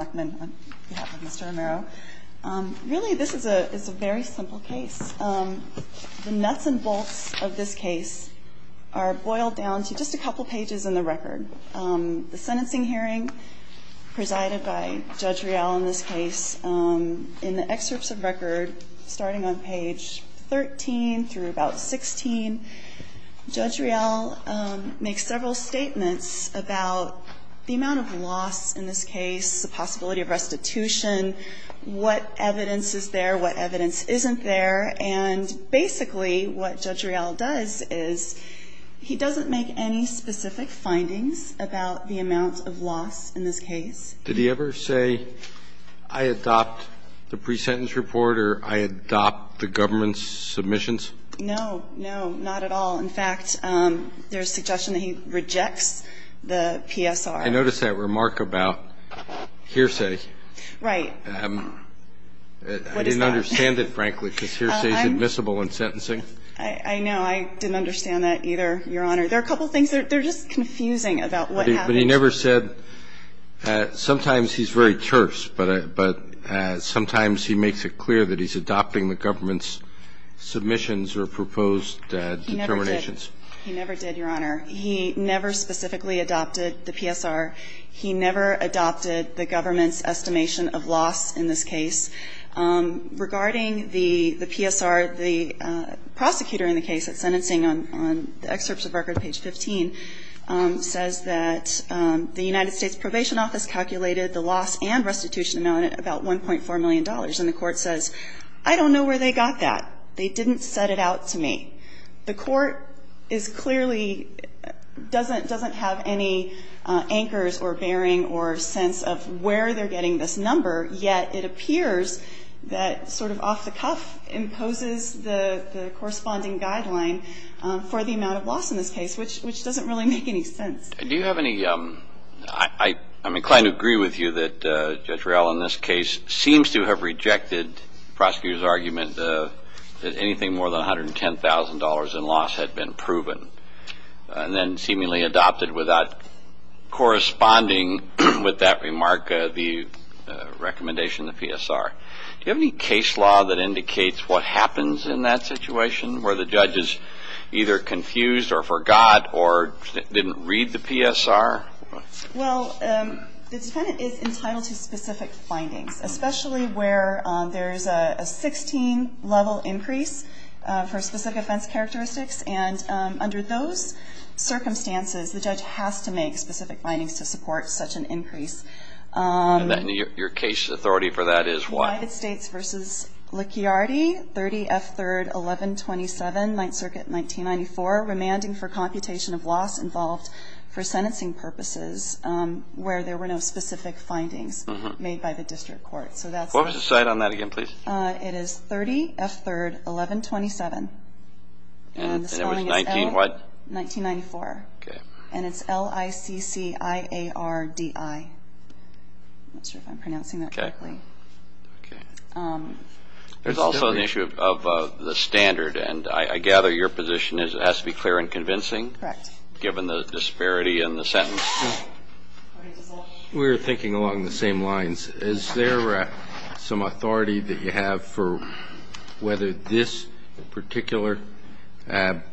on behalf of Mr. Romero. Really, this is a very simple case. The nuts and bolts of this case are boiled down to just a couple pages in the record. The sentencing hearing presided by Judge Rial in this case, in the excerpts of record, starting on page 13 through about 16, Judge Rial makes several statements about the amount of loss in this case, the possibility of restitution, what evidence is there, what evidence isn't there, and basically what Judge Rial does is he doesn't make any specific findings about the amount of loss in this case. Did he ever say, I adopt the pre-sentence report or I adopt the government's submissions? No, no, not at all. In fact, there's suggestion that he rejects the PSR. I noticed that remark about hearsay. Right. I didn't understand it, frankly, because hearsay is admissible in sentencing. I know. I didn't understand that either, Your Honor. There are a couple things. They're just confusing about what happened. But he never said – sometimes he's very terse, but sometimes he makes it clear that he's adopting the government's submissions or proposed determinations. He never did, Your Honor. He never specifically adopted the PSR. He never adopted the government's estimation of loss in this case. Regarding the PSR, the prosecutor in the case at sentencing on the excerpts of record, page 15, says that the United States Probation Office calculated the loss and restitution amount at about $1.4 million. And the Court says, I don't know where they got that. They didn't set it out to me. The Court is clearly – doesn't have any anchors or bearing or sense of where they're getting this number, yet it appears that sort of off-the-cuff imposes the corresponding guideline for the amount of loss in this case, which doesn't really make any sense. Do you have any – I'm inclined to agree with you that Judge Riell in this case seems to have rejected the prosecutor's argument that anything more than $110,000 in loss had been proven and then seemingly adopted without corresponding with that remark, the recommendation of the PSR. Do you have any case law that indicates what happens in that situation where the judge is either confused or forgot or didn't read the PSR? Well, the defendant is entitled to specific findings, especially where there's a 16-level increase for specific offense characteristics. And under those circumstances, the judge has to make specific findings to support such an increase. And your case authority for that is what? United States v. Licciardi, 30 F. 3rd, 1127, Ninth Circuit, 1994, remanding for computation of loss involved for sentencing purposes where there were no specific findings made by the district court. What was the site on that again, please? It is 30 F. 3rd, 1127. And it was 19 what? 1994. Okay. And it's L-I-C-C-I-A-R-D-I. I'm not sure if I'm pronouncing that correctly. Okay. Okay. There's also the issue of the standard. And I gather your position is it has to be clear and convincing? Correct. Given the disparity in the sentence? No. We were thinking along the same lines. Is there some authority that you have for whether this particular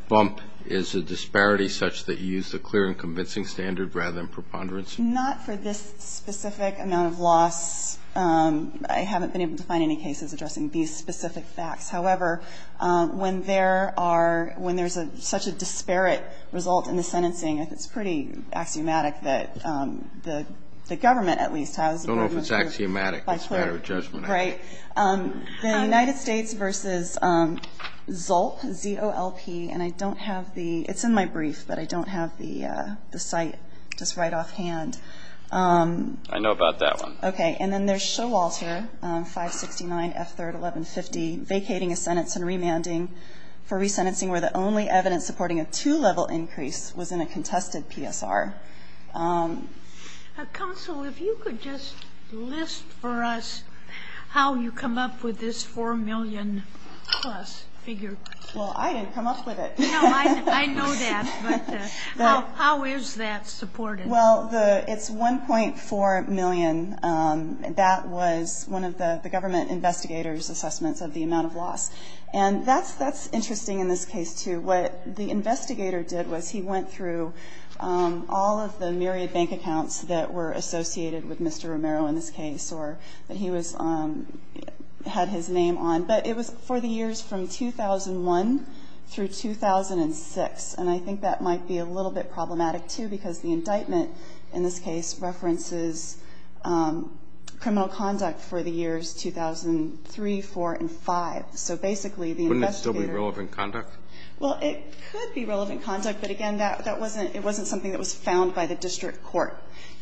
bump is a disparity such that you use the clear and convincing standard rather than preponderance? Not for this specific amount of loss. I haven't been able to find any cases addressing these specific facts. However, when there are – when there's such a disparate result in the sentencing, it's pretty axiomatic that the government, at least, has approved this. I don't know if it's axiomatic. It's a matter of judgment. Right. The United States v. Zolp, Z-O-L-P, and I don't have the – it's in my brief, but I don't have the site just right offhand. I know about that one. Okay. And then there's Showalter, 569 F-3rd, 1150, vacating a sentence and remanding for resentencing where the only evidence supporting a two-level increase was in a contested PSR. Counsel, if you could just list for us how you come up with this 4 million-plus figure. Well, I didn't come up with it. No, I know that. But how is that supported? Well, the – it's 1.4 million. That was one of the government investigators' assessments of the amount of loss. And that's interesting in this case, too. What the investigator did was he went through all of the myriad bank accounts that were associated with Mr. Romero in this case or that he was – had his name on. But it was for the years from 2001 through 2006. And I think that might be a little bit problematic, too, because the indictment in this case references criminal conduct for the years 2003, 2004, and 2005. So basically, the investigator – Wouldn't it still be relevant conduct? Well, it could be relevant conduct. But again, that wasn't – it wasn't something that was found by the district court.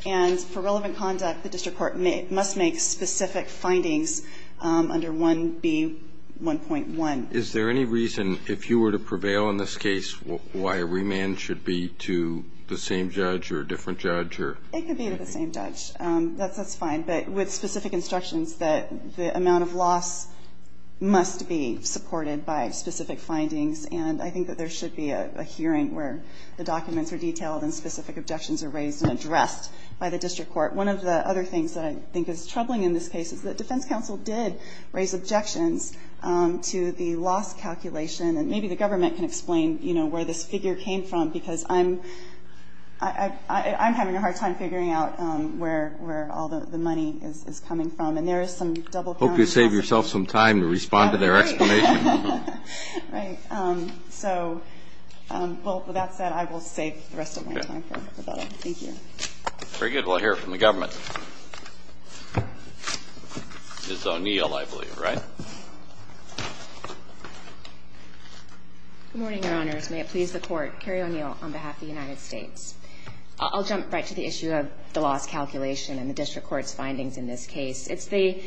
And for relevant conduct, the district court must make specific findings under 1B1.1. Is there any reason, if you were to prevail in this case, why a remand should be to the same judge or a different judge? It could be to the same judge. That's fine. But with specific instructions that the amount of loss must be supported by specific findings. And I think that there should be a hearing where the documents are detailed and specific objections are raised and addressed by the district court. One of the other things that I think is troubling in this case is that defense counsel did raise objections to the loss calculation. And maybe the government can explain, you know, where this figure came from, because I'm – I'm having a hard time figuring out where all the money is coming from. And there is some double-counting. I hope you save yourself some time to respond to their explanation. Right. So, well, with that said, I will save the rest of my time. Thank you. Very good. We'll hear from the government. Ms. O'Neill, I believe, right? Good morning, Your Honors. May it please the Court. Carrie O'Neill on behalf of the United States. I'll jump right to the issue of the loss calculation and the district court's findings in this case. It's the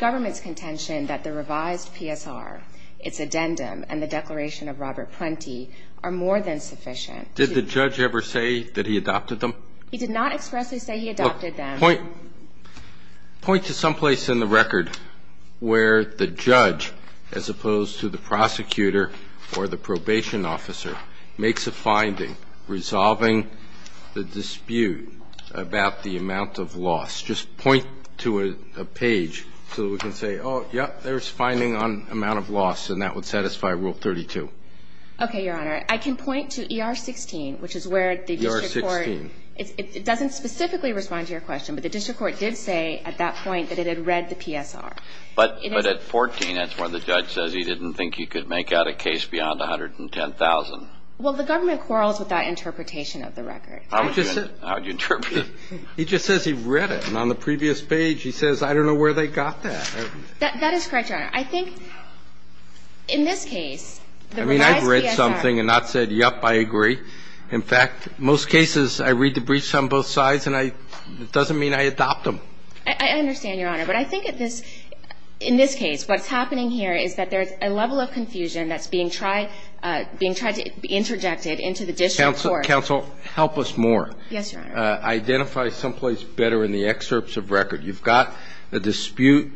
government's contention that the revised PSR, its addendum, and the declaration of Robert Prenti are more than sufficient to – Did the judge ever say that he adopted them? He did not expressly say he adopted them. Point – point to some place in the record where the judge, as opposed to the prosecutor or the probation officer, makes a finding resolving the dispute about the amount of loss. Just point to a page so that we can say, oh, yep, there's a finding on amount of loss, and that would satisfy Rule 32. Okay, Your Honor. I can point to ER-16, which is where the district court – ER-16. It doesn't specifically respond to your question, but the district court did say at that point that it had read the PSR. But at 14, that's where the judge says he didn't think he could make out a case beyond 110,000. Well, the government quarrels with that interpretation of the record. How would you interpret it? He just says he read it, and on the previous page he says, I don't know where they got that. That is correct, Your Honor. I think in this case, the revised PSR – I mean, I've read something and not said, yep, I agree. In fact, most cases I read the briefs on both sides, and it doesn't mean I adopt them. I understand, Your Honor. But I think at this – in this case, what's happening here is that there's a level of confusion that's being tried – being tried to interject it into the district court. Counsel, counsel, help us more. Yes, Your Honor. Identify someplace better in the excerpts of record. You've got the dispute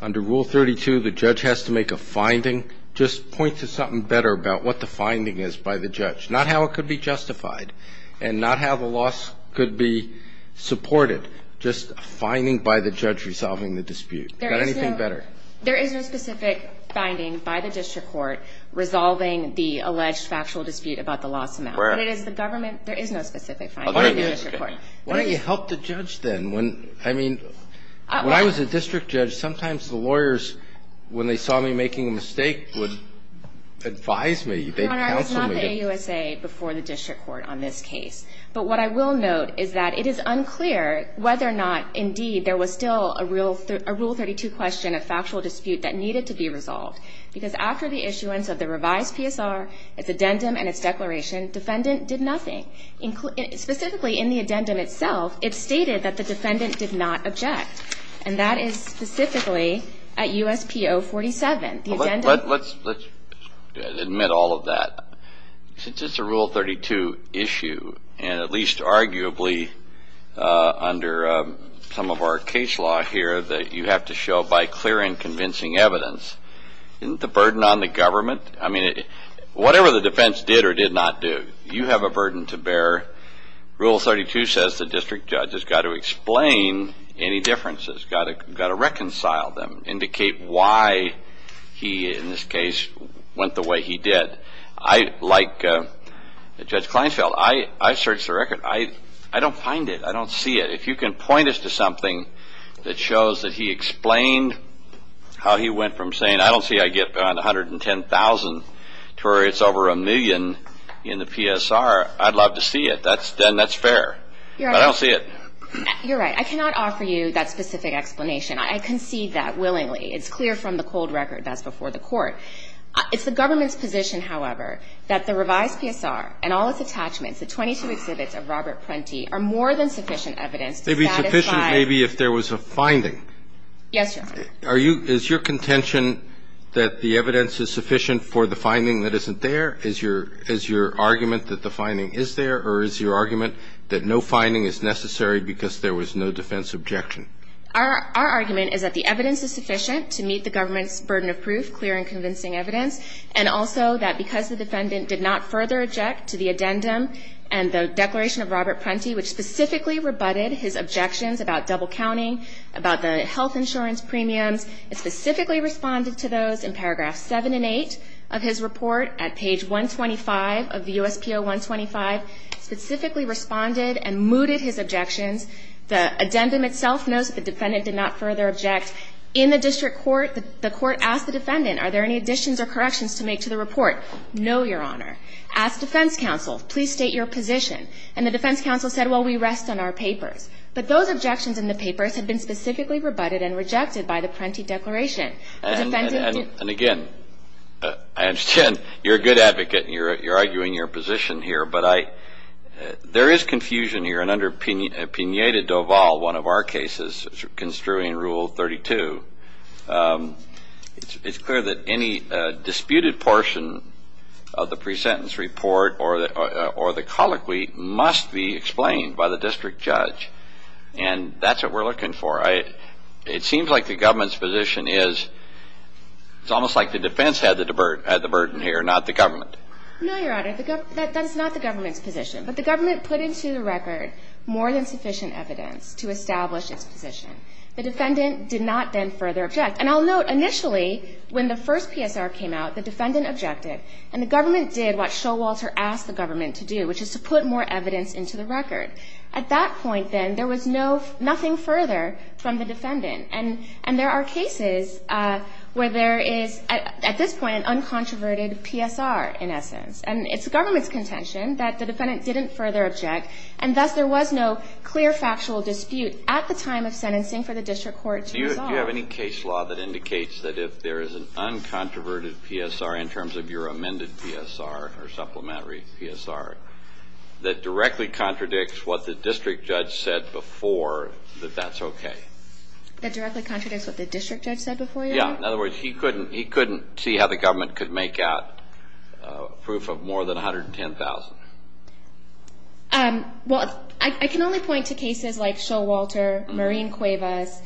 under Rule 32. The judge has to make a finding. Just point to something better about what the finding is by the judge. Not how it could be justified and not how the loss could be supported. Just a finding by the judge resolving the dispute. There is no – Got anything better? There is no specific finding by the district court resolving the alleged factual dispute about the loss amount. Where? What it is, the government – there is no specific finding by the district court. Why don't you help the judge then? I mean, when I was a district judge, sometimes the lawyers, when they saw me making a mistake, would advise me. They'd counsel me. There was no AUSA before the district court on this case. But what I will note is that it is unclear whether or not, indeed, there was still a Rule 32 question, a factual dispute, that needed to be resolved. Because after the issuance of the revised PSR, its addendum and its declaration, defendant did nothing. Specifically in the addendum itself, it stated that the defendant did not object. And that is specifically at USP 047. Well, let's admit all of that. Since it's a Rule 32 issue, and at least arguably under some of our case law here that you have to show by clear and convincing evidence, the burden on the government – I mean, whatever the defense did or did not do, you have a burden to bear. Rule 32 says the district judge has got to He, in this case, went the way he did. Like Judge Kleinfeld, I searched the record. I don't find it. I don't see it. If you can point us to something that shows that he explained how he went from saying, I don't see I get 110,000 to where it's over a million in the PSR, I'd love to see it. Then that's fair. But I don't see it. You're right. I cannot offer you that specific explanation. I concede that It's the government's position, however, that the revised PSR and all its attachments, the 22 exhibits of Robert Prenti, are more than sufficient evidence to satisfy They'd be sufficient maybe if there was a finding. Yes, Your Honor. Are you – is your contention that the evidence is sufficient for the finding that isn't there? Is your – is your argument that the finding is there, or is your argument that no finding is necessary because there was no defense objection? Our argument is that the evidence is sufficient to meet the government's burden of proof, clear and convincing evidence, and also that because the defendant did not further object to the addendum and the declaration of Robert Prenti, which specifically rebutted his objections about double counting, about the health insurance premiums, specifically responded to those in paragraphs 7 and 8 of his report at page 125 of the USPO 125, specifically responded and mooted his objections. The addendum itself knows that the defendant did not further object. In the district court, the court asked the defendant, are there any additions or corrections to make to the report? No, Your Honor. Asked defense counsel, please state your position. And the defense counsel said, well, we rest on our papers. But those objections in the papers have been specifically rebutted and rejected by the Prenti declaration. And again, I understand you're a good advocate and you're arguing your position here, but there is confusion here. And under Pena de Doval, one of our cases, construing rule 32, it's clear that any disputed portion of the pre-sentence report or the colloquy must be explained by the district judge. And that's what we're looking for. It seems like the government's position is it's almost like the defense had the burden here, not the government. No, Your Honor. That's not the government's position. But the government put into the record more than sufficient evidence to establish its position. The defendant did not then further object. And I'll note, initially, when the first PSR came out, the defendant objected. And the government did what Showalter asked the government to do, which is to put more evidence into the record. At that point, then, there was nothing further from the defendant. And there are cases where there is, at this point, an uncontroverted PSR, in essence. And it's the government's contention that the defendant didn't further object. And thus, there was no clear factual dispute at the time of sentencing for the district court to resolve. Do you have any case law that indicates that if there is an uncontroverted PSR, in terms of your amended PSR or supplementary PSR, that directly contradicts what the district judge said before that that's okay? That directly contradicts what the district judge said before, Your Honor? Yeah. In other words, he couldn't see how the government could make out proof of more than 110,000. Well, I can only point to cases like Showalter, Marine Cuevas,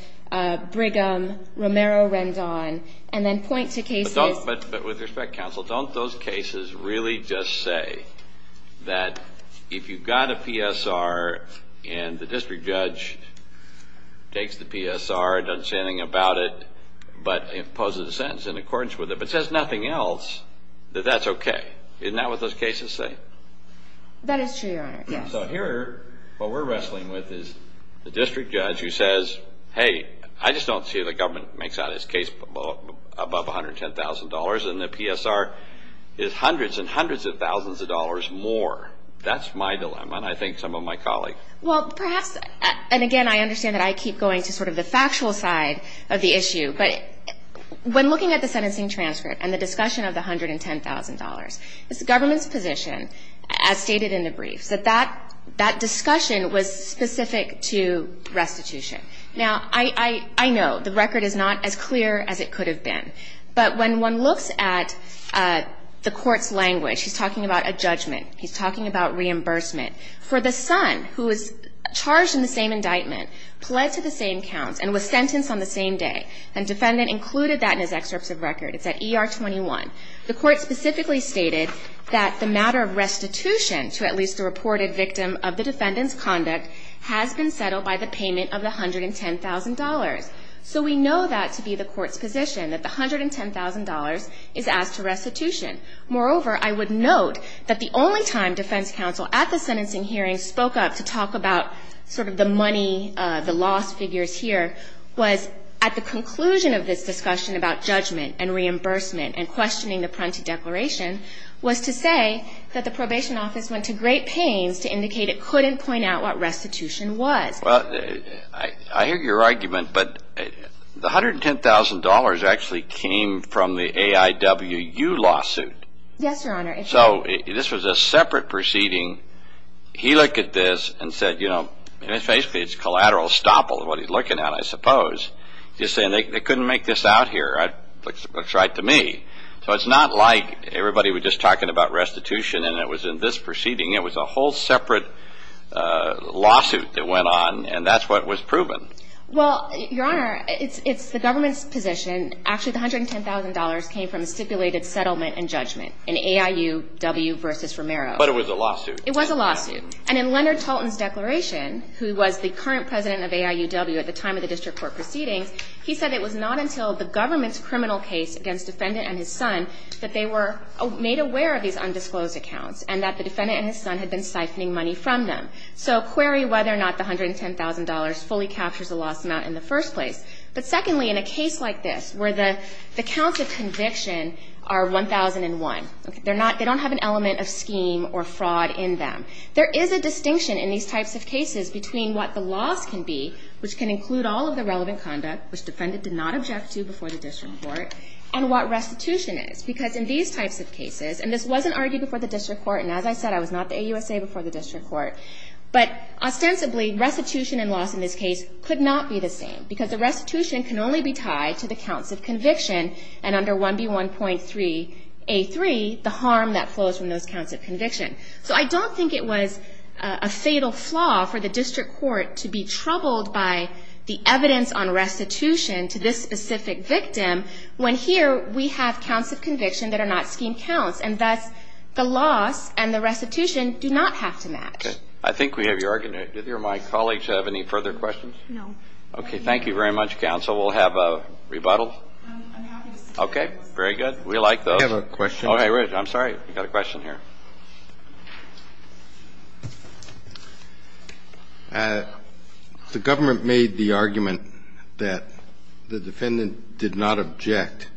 Brigham, Romero-Rendon, and then point to cases. But with respect, counsel, don't those cases really just say that if you've got a PSR and the district judge takes the PSR, doesn't say anything about it, but poses a sentence in accordance with it, but says nothing else, that that's okay. Isn't that what those cases say? That is true, Your Honor, yes. So here, what we're wrestling with is the district judge who says, hey, I just don't see how the government makes out his case above $110,000 and the PSR is hundreds and hundreds of thousands of dollars more. That's my dilemma. And I think some of my colleagues. Well, perhaps, and again, I understand that I keep going to sort of the factual side of the issue. But when looking at the sentencing transcript and the discussion of the $110,000, it's the government's position, as stated in the briefs, that that discussion was specific to restitution. Now, I know the record is not as clear as it could have been. But when one looks at the court's language, he's talking about a judgment, he's talking about reimbursement for the son who was charged in the same indictment, pled to the same counts, and was sentenced on the same day. And the defendant included that in his excerpts of record. It's at ER 21. The court specifically stated that the matter of restitution to at least a reported victim of the defendant's conduct has been settled by the payment of the $110,000. So we know that to be the court's position, that the $110,000 is asked to restitution. Moreover, I would note that the only time defense counsel at the sentencing hearing spoke up to talk about sort of the money, the lost figures here, was at the conclusion of this discussion about judgment and reimbursement and questioning the preemptive declaration, was to say that the probation office went to great pains to indicate it couldn't point out what restitution was. Well, I hear your argument, but the $110,000 actually came from the AIWU lawsuit. Yes, Your Honor. So this was a separate proceeding. He looked at this and said, you know, basically it's collateral estoppel is what he's looking at, I suppose. He's saying they couldn't make this out here. It looks right to me. So it's not like everybody was just talking about restitution and it was in this proceeding. It was a whole separate lawsuit that went on, and that's what was proven. Well, Your Honor, it's the government's position. Actually, the $110,000 came from a stipulated settlement and judgment in AIWU v. Romero. But it was a lawsuit. It was a lawsuit. And in Leonard Tolton's declaration, who was the current president of AIWU at the time of the district court proceedings, he said it was not until the government's criminal case against the defendant and his son that they were made aware of these undisclosed accounts and that the defendant and his son had been siphoning money from them. So query whether or not the $110,000 fully captures the loss amount in the first place. But secondly, in a case like this where the counts of conviction are 1,001, they don't have an element of scheme or fraud in them, there is a distinction in these types of cases between what the loss can be, which can include all of the relevant conduct, which the defendant did not object to before the district court, and what restitution is. Because in these types of cases, and this wasn't argued before the district court, and as I said I was not the AUSA before the district court, but ostensibly restitution and loss in this case could not be the same because the restitution can only be tied to the counts of conviction and under 1B1.3A3 the harm that flows from those counts of conviction. So I don't think it was a fatal flaw for the district court to be troubled by the evidence on restitution to this specific victim when here we have counts of conviction that are not scheme counts and thus the loss and the restitution do not have to match. I think we have your argument. Do either of my colleagues have any further questions? No. Okay. Thank you very much, counsel. We'll have a rebuttal. Okay. Very good. We like those. I have a question. I'm sorry. We've got a question here. The government made the argument that the defendant did not object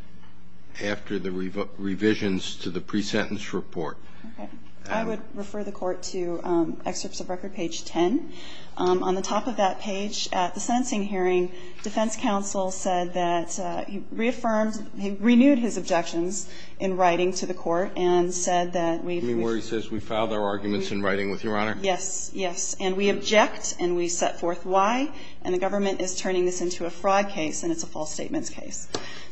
after the revisions to the pre-sentence report. Okay. I would refer the court to excerpts of Record Page 10. On the top of that page at the sentencing hearing, defense counsel said that he reaffirmed, he renewed his objections in writing to the court and said that we've been Where he says we filed our arguments in writing with Your Honor? Yes, yes. And we object and we set forth why, and the government is turning this into a fraud case and it's a false statements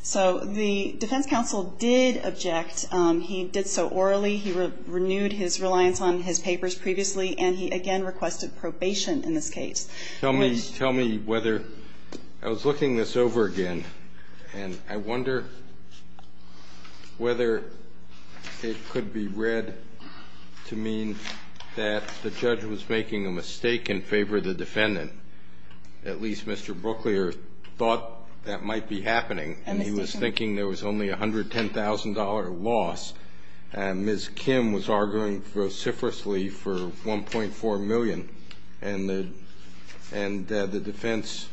So the defense counsel did object. He did so orally. He renewed his reliance on his papers previously, and he again requested probation in this case. Tell me whether, I was looking this over again, and I wonder whether it could be read to mean that the judge was making a mistake in favor of the defendant. At least Mr. Brooklier thought that might be happening, and he was thinking there was only a $110,000 loss, and Ms. Kim was arguing vociferously for $1.4 million, and the defense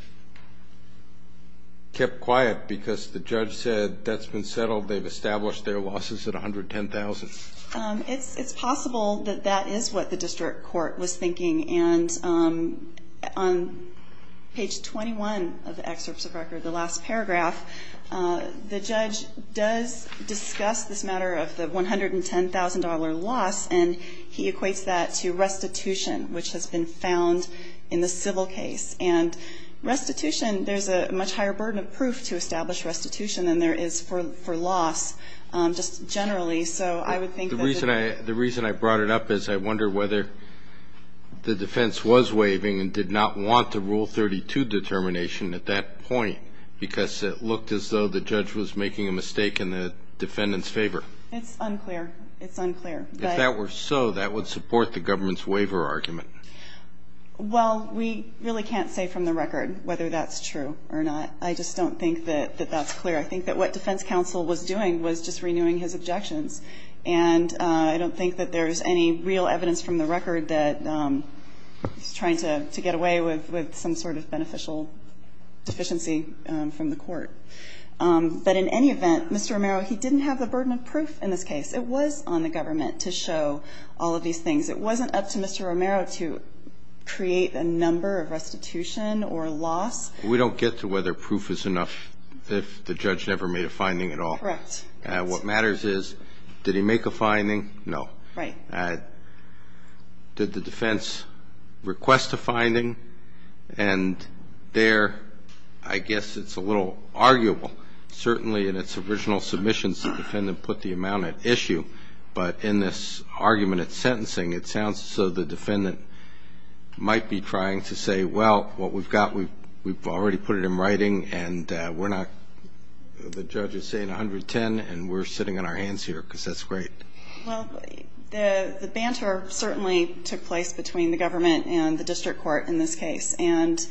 kept quiet because the judge said that's been settled. They've established their losses at $110,000. It's possible that that is what the district court was thinking, and on page 21 of the excerpts of record, the last paragraph, the judge does discuss this matter of the $110,000 loss, and he equates that to restitution, which has been found in the civil case. And restitution, there's a much higher burden of proof to establish restitution than there is for loss, just generally. So I would think that the reason I brought it up is I wonder whether the district court was thinking that the defense was waiving and did not want the Rule 32 determination at that point, because it looked as though the judge was making a mistake in the defendant's favor. It's unclear. It's unclear. If that were so, that would support the government's waiver argument. Well, we really can't say from the record whether that's true or not. I just don't think that that's clear. I think that what defense counsel was doing was just renewing his objections, and I don't think that there's any real evidence from the record that he's trying to get away with some sort of beneficial deficiency from the court. But in any event, Mr. Romero, he didn't have the burden of proof in this case. It was on the government to show all of these things. It wasn't up to Mr. Romero to create a number of restitution or loss. We don't get to whether proof is enough if the judge never made a finding at all. Correct. What matters is, did he make a finding? No. Right. Did the defense request a finding? And there, I guess it's a little arguable. Certainly in its original submissions, the defendant put the amount at issue. But in this argument at sentencing, it sounds as though the defendant might be trying to say, well, what we've got, we've already put it in writing, and we're not the judge who's saying 110, and we're sitting on our hands here, because that's great. Well, the banter certainly took place between the government and the district court in this case. And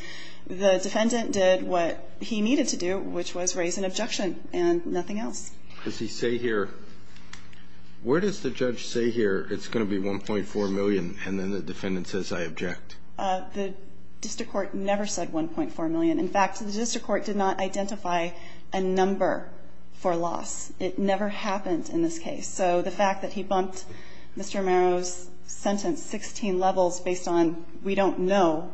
the defendant did what he needed to do, which was raise an objection and nothing else. Does he say here, where does the judge say here it's going to be $1.4 million, and then the defendant says, I object? The district court never said $1.4 million. In fact, the district court did not identify a number for loss. It never happened in this case. So the fact that he bumped Mr. Romero's sentence 16 levels based on we don't know,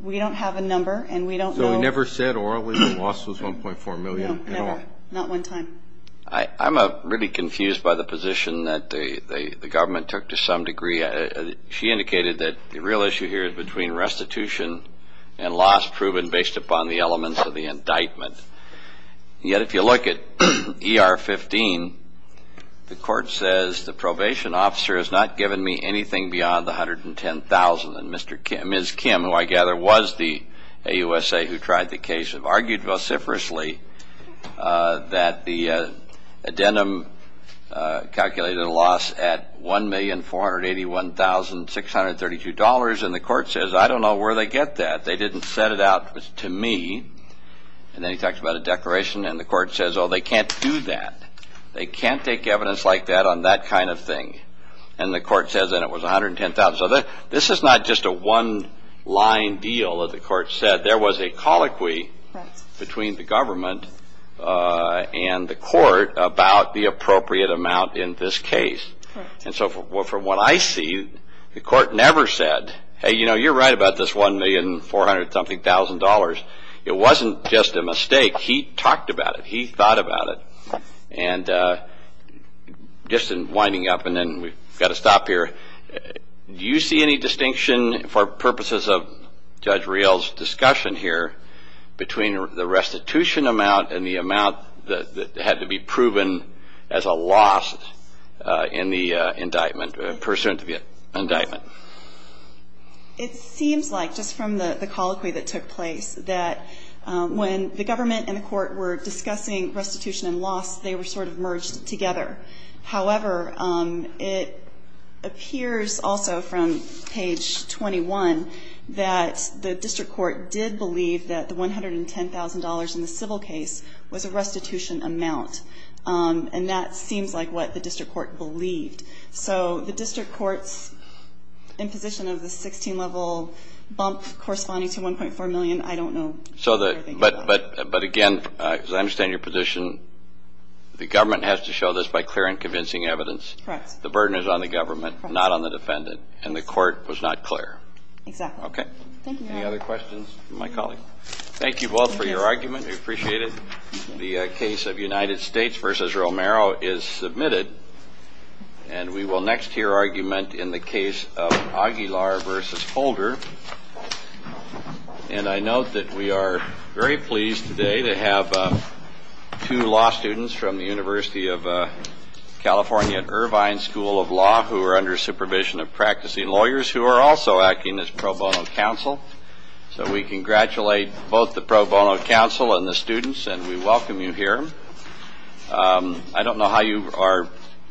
we don't have a number, and we don't know. So he never said orally the loss was $1.4 million at all? No, never. Not one time. I'm really confused by the position that the government took to some degree. She indicated that the real issue here is between restitution and loss proven based upon the elements of the indictment. Yet if you look at ER 15, the court says the probation officer has not given me anything beyond the $110,000. And Ms. Kim, who I gather was the AUSA who tried the case, have argued vociferously that the addendum calculated a loss at $1,481,632. And the court says, I don't know where they get that. They didn't set it out to me. And then he talks about a declaration, and the court says, oh, they can't do that. They can't take evidence like that on that kind of thing. And the court says, and it was $110,000. So this is not just a one-line deal that the court said. There was a colloquy between the government and the court about the appropriate amount in this case. And so from what I see, the court never said, hey, you know, you're right about this $1,400,000. It wasn't just a mistake. He talked about it. He thought about it. And just in winding up, and then we've got to stop here, do you see any distinction for purposes of Judge Riel's discussion here between the restitution amount and the amount that had to be proven as a loss in the indictment, pursuant to the indictment? It seems like, just from the colloquy that took place, that when the government and the court were discussing restitution and loss, they were sort of merged together. However, it appears also from page 21 that the district court did believe that the $110,000 in the civil case was a restitution amount. And that seems like what the district court believed. So the district court's imposition of the 16-level bump corresponding to $1.4 million, I don't know. But again, as I understand your position, the government has to show this by clear and convincing evidence. Correct. The burden is on the government, not on the defendant. And the court was not clear. Exactly. Okay. Thank you, Your Honor. Any other questions for my colleague? Thank you both for your argument. We appreciate it. The case of United States v. Romero is submitted. And we will next hear argument in the case of Aguilar v. Holder. And I note that we are very pleased today to have two law students from the University of California at Irvine School of Law who are under supervision of practicing lawyers who are also acting as pro bono counsel. So we congratulate both the pro bono counsel and the students, and we welcome you here. I don't know how you are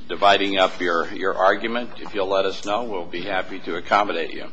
dividing up your argument. If you'll let us know, we'll be happy to accommodate you.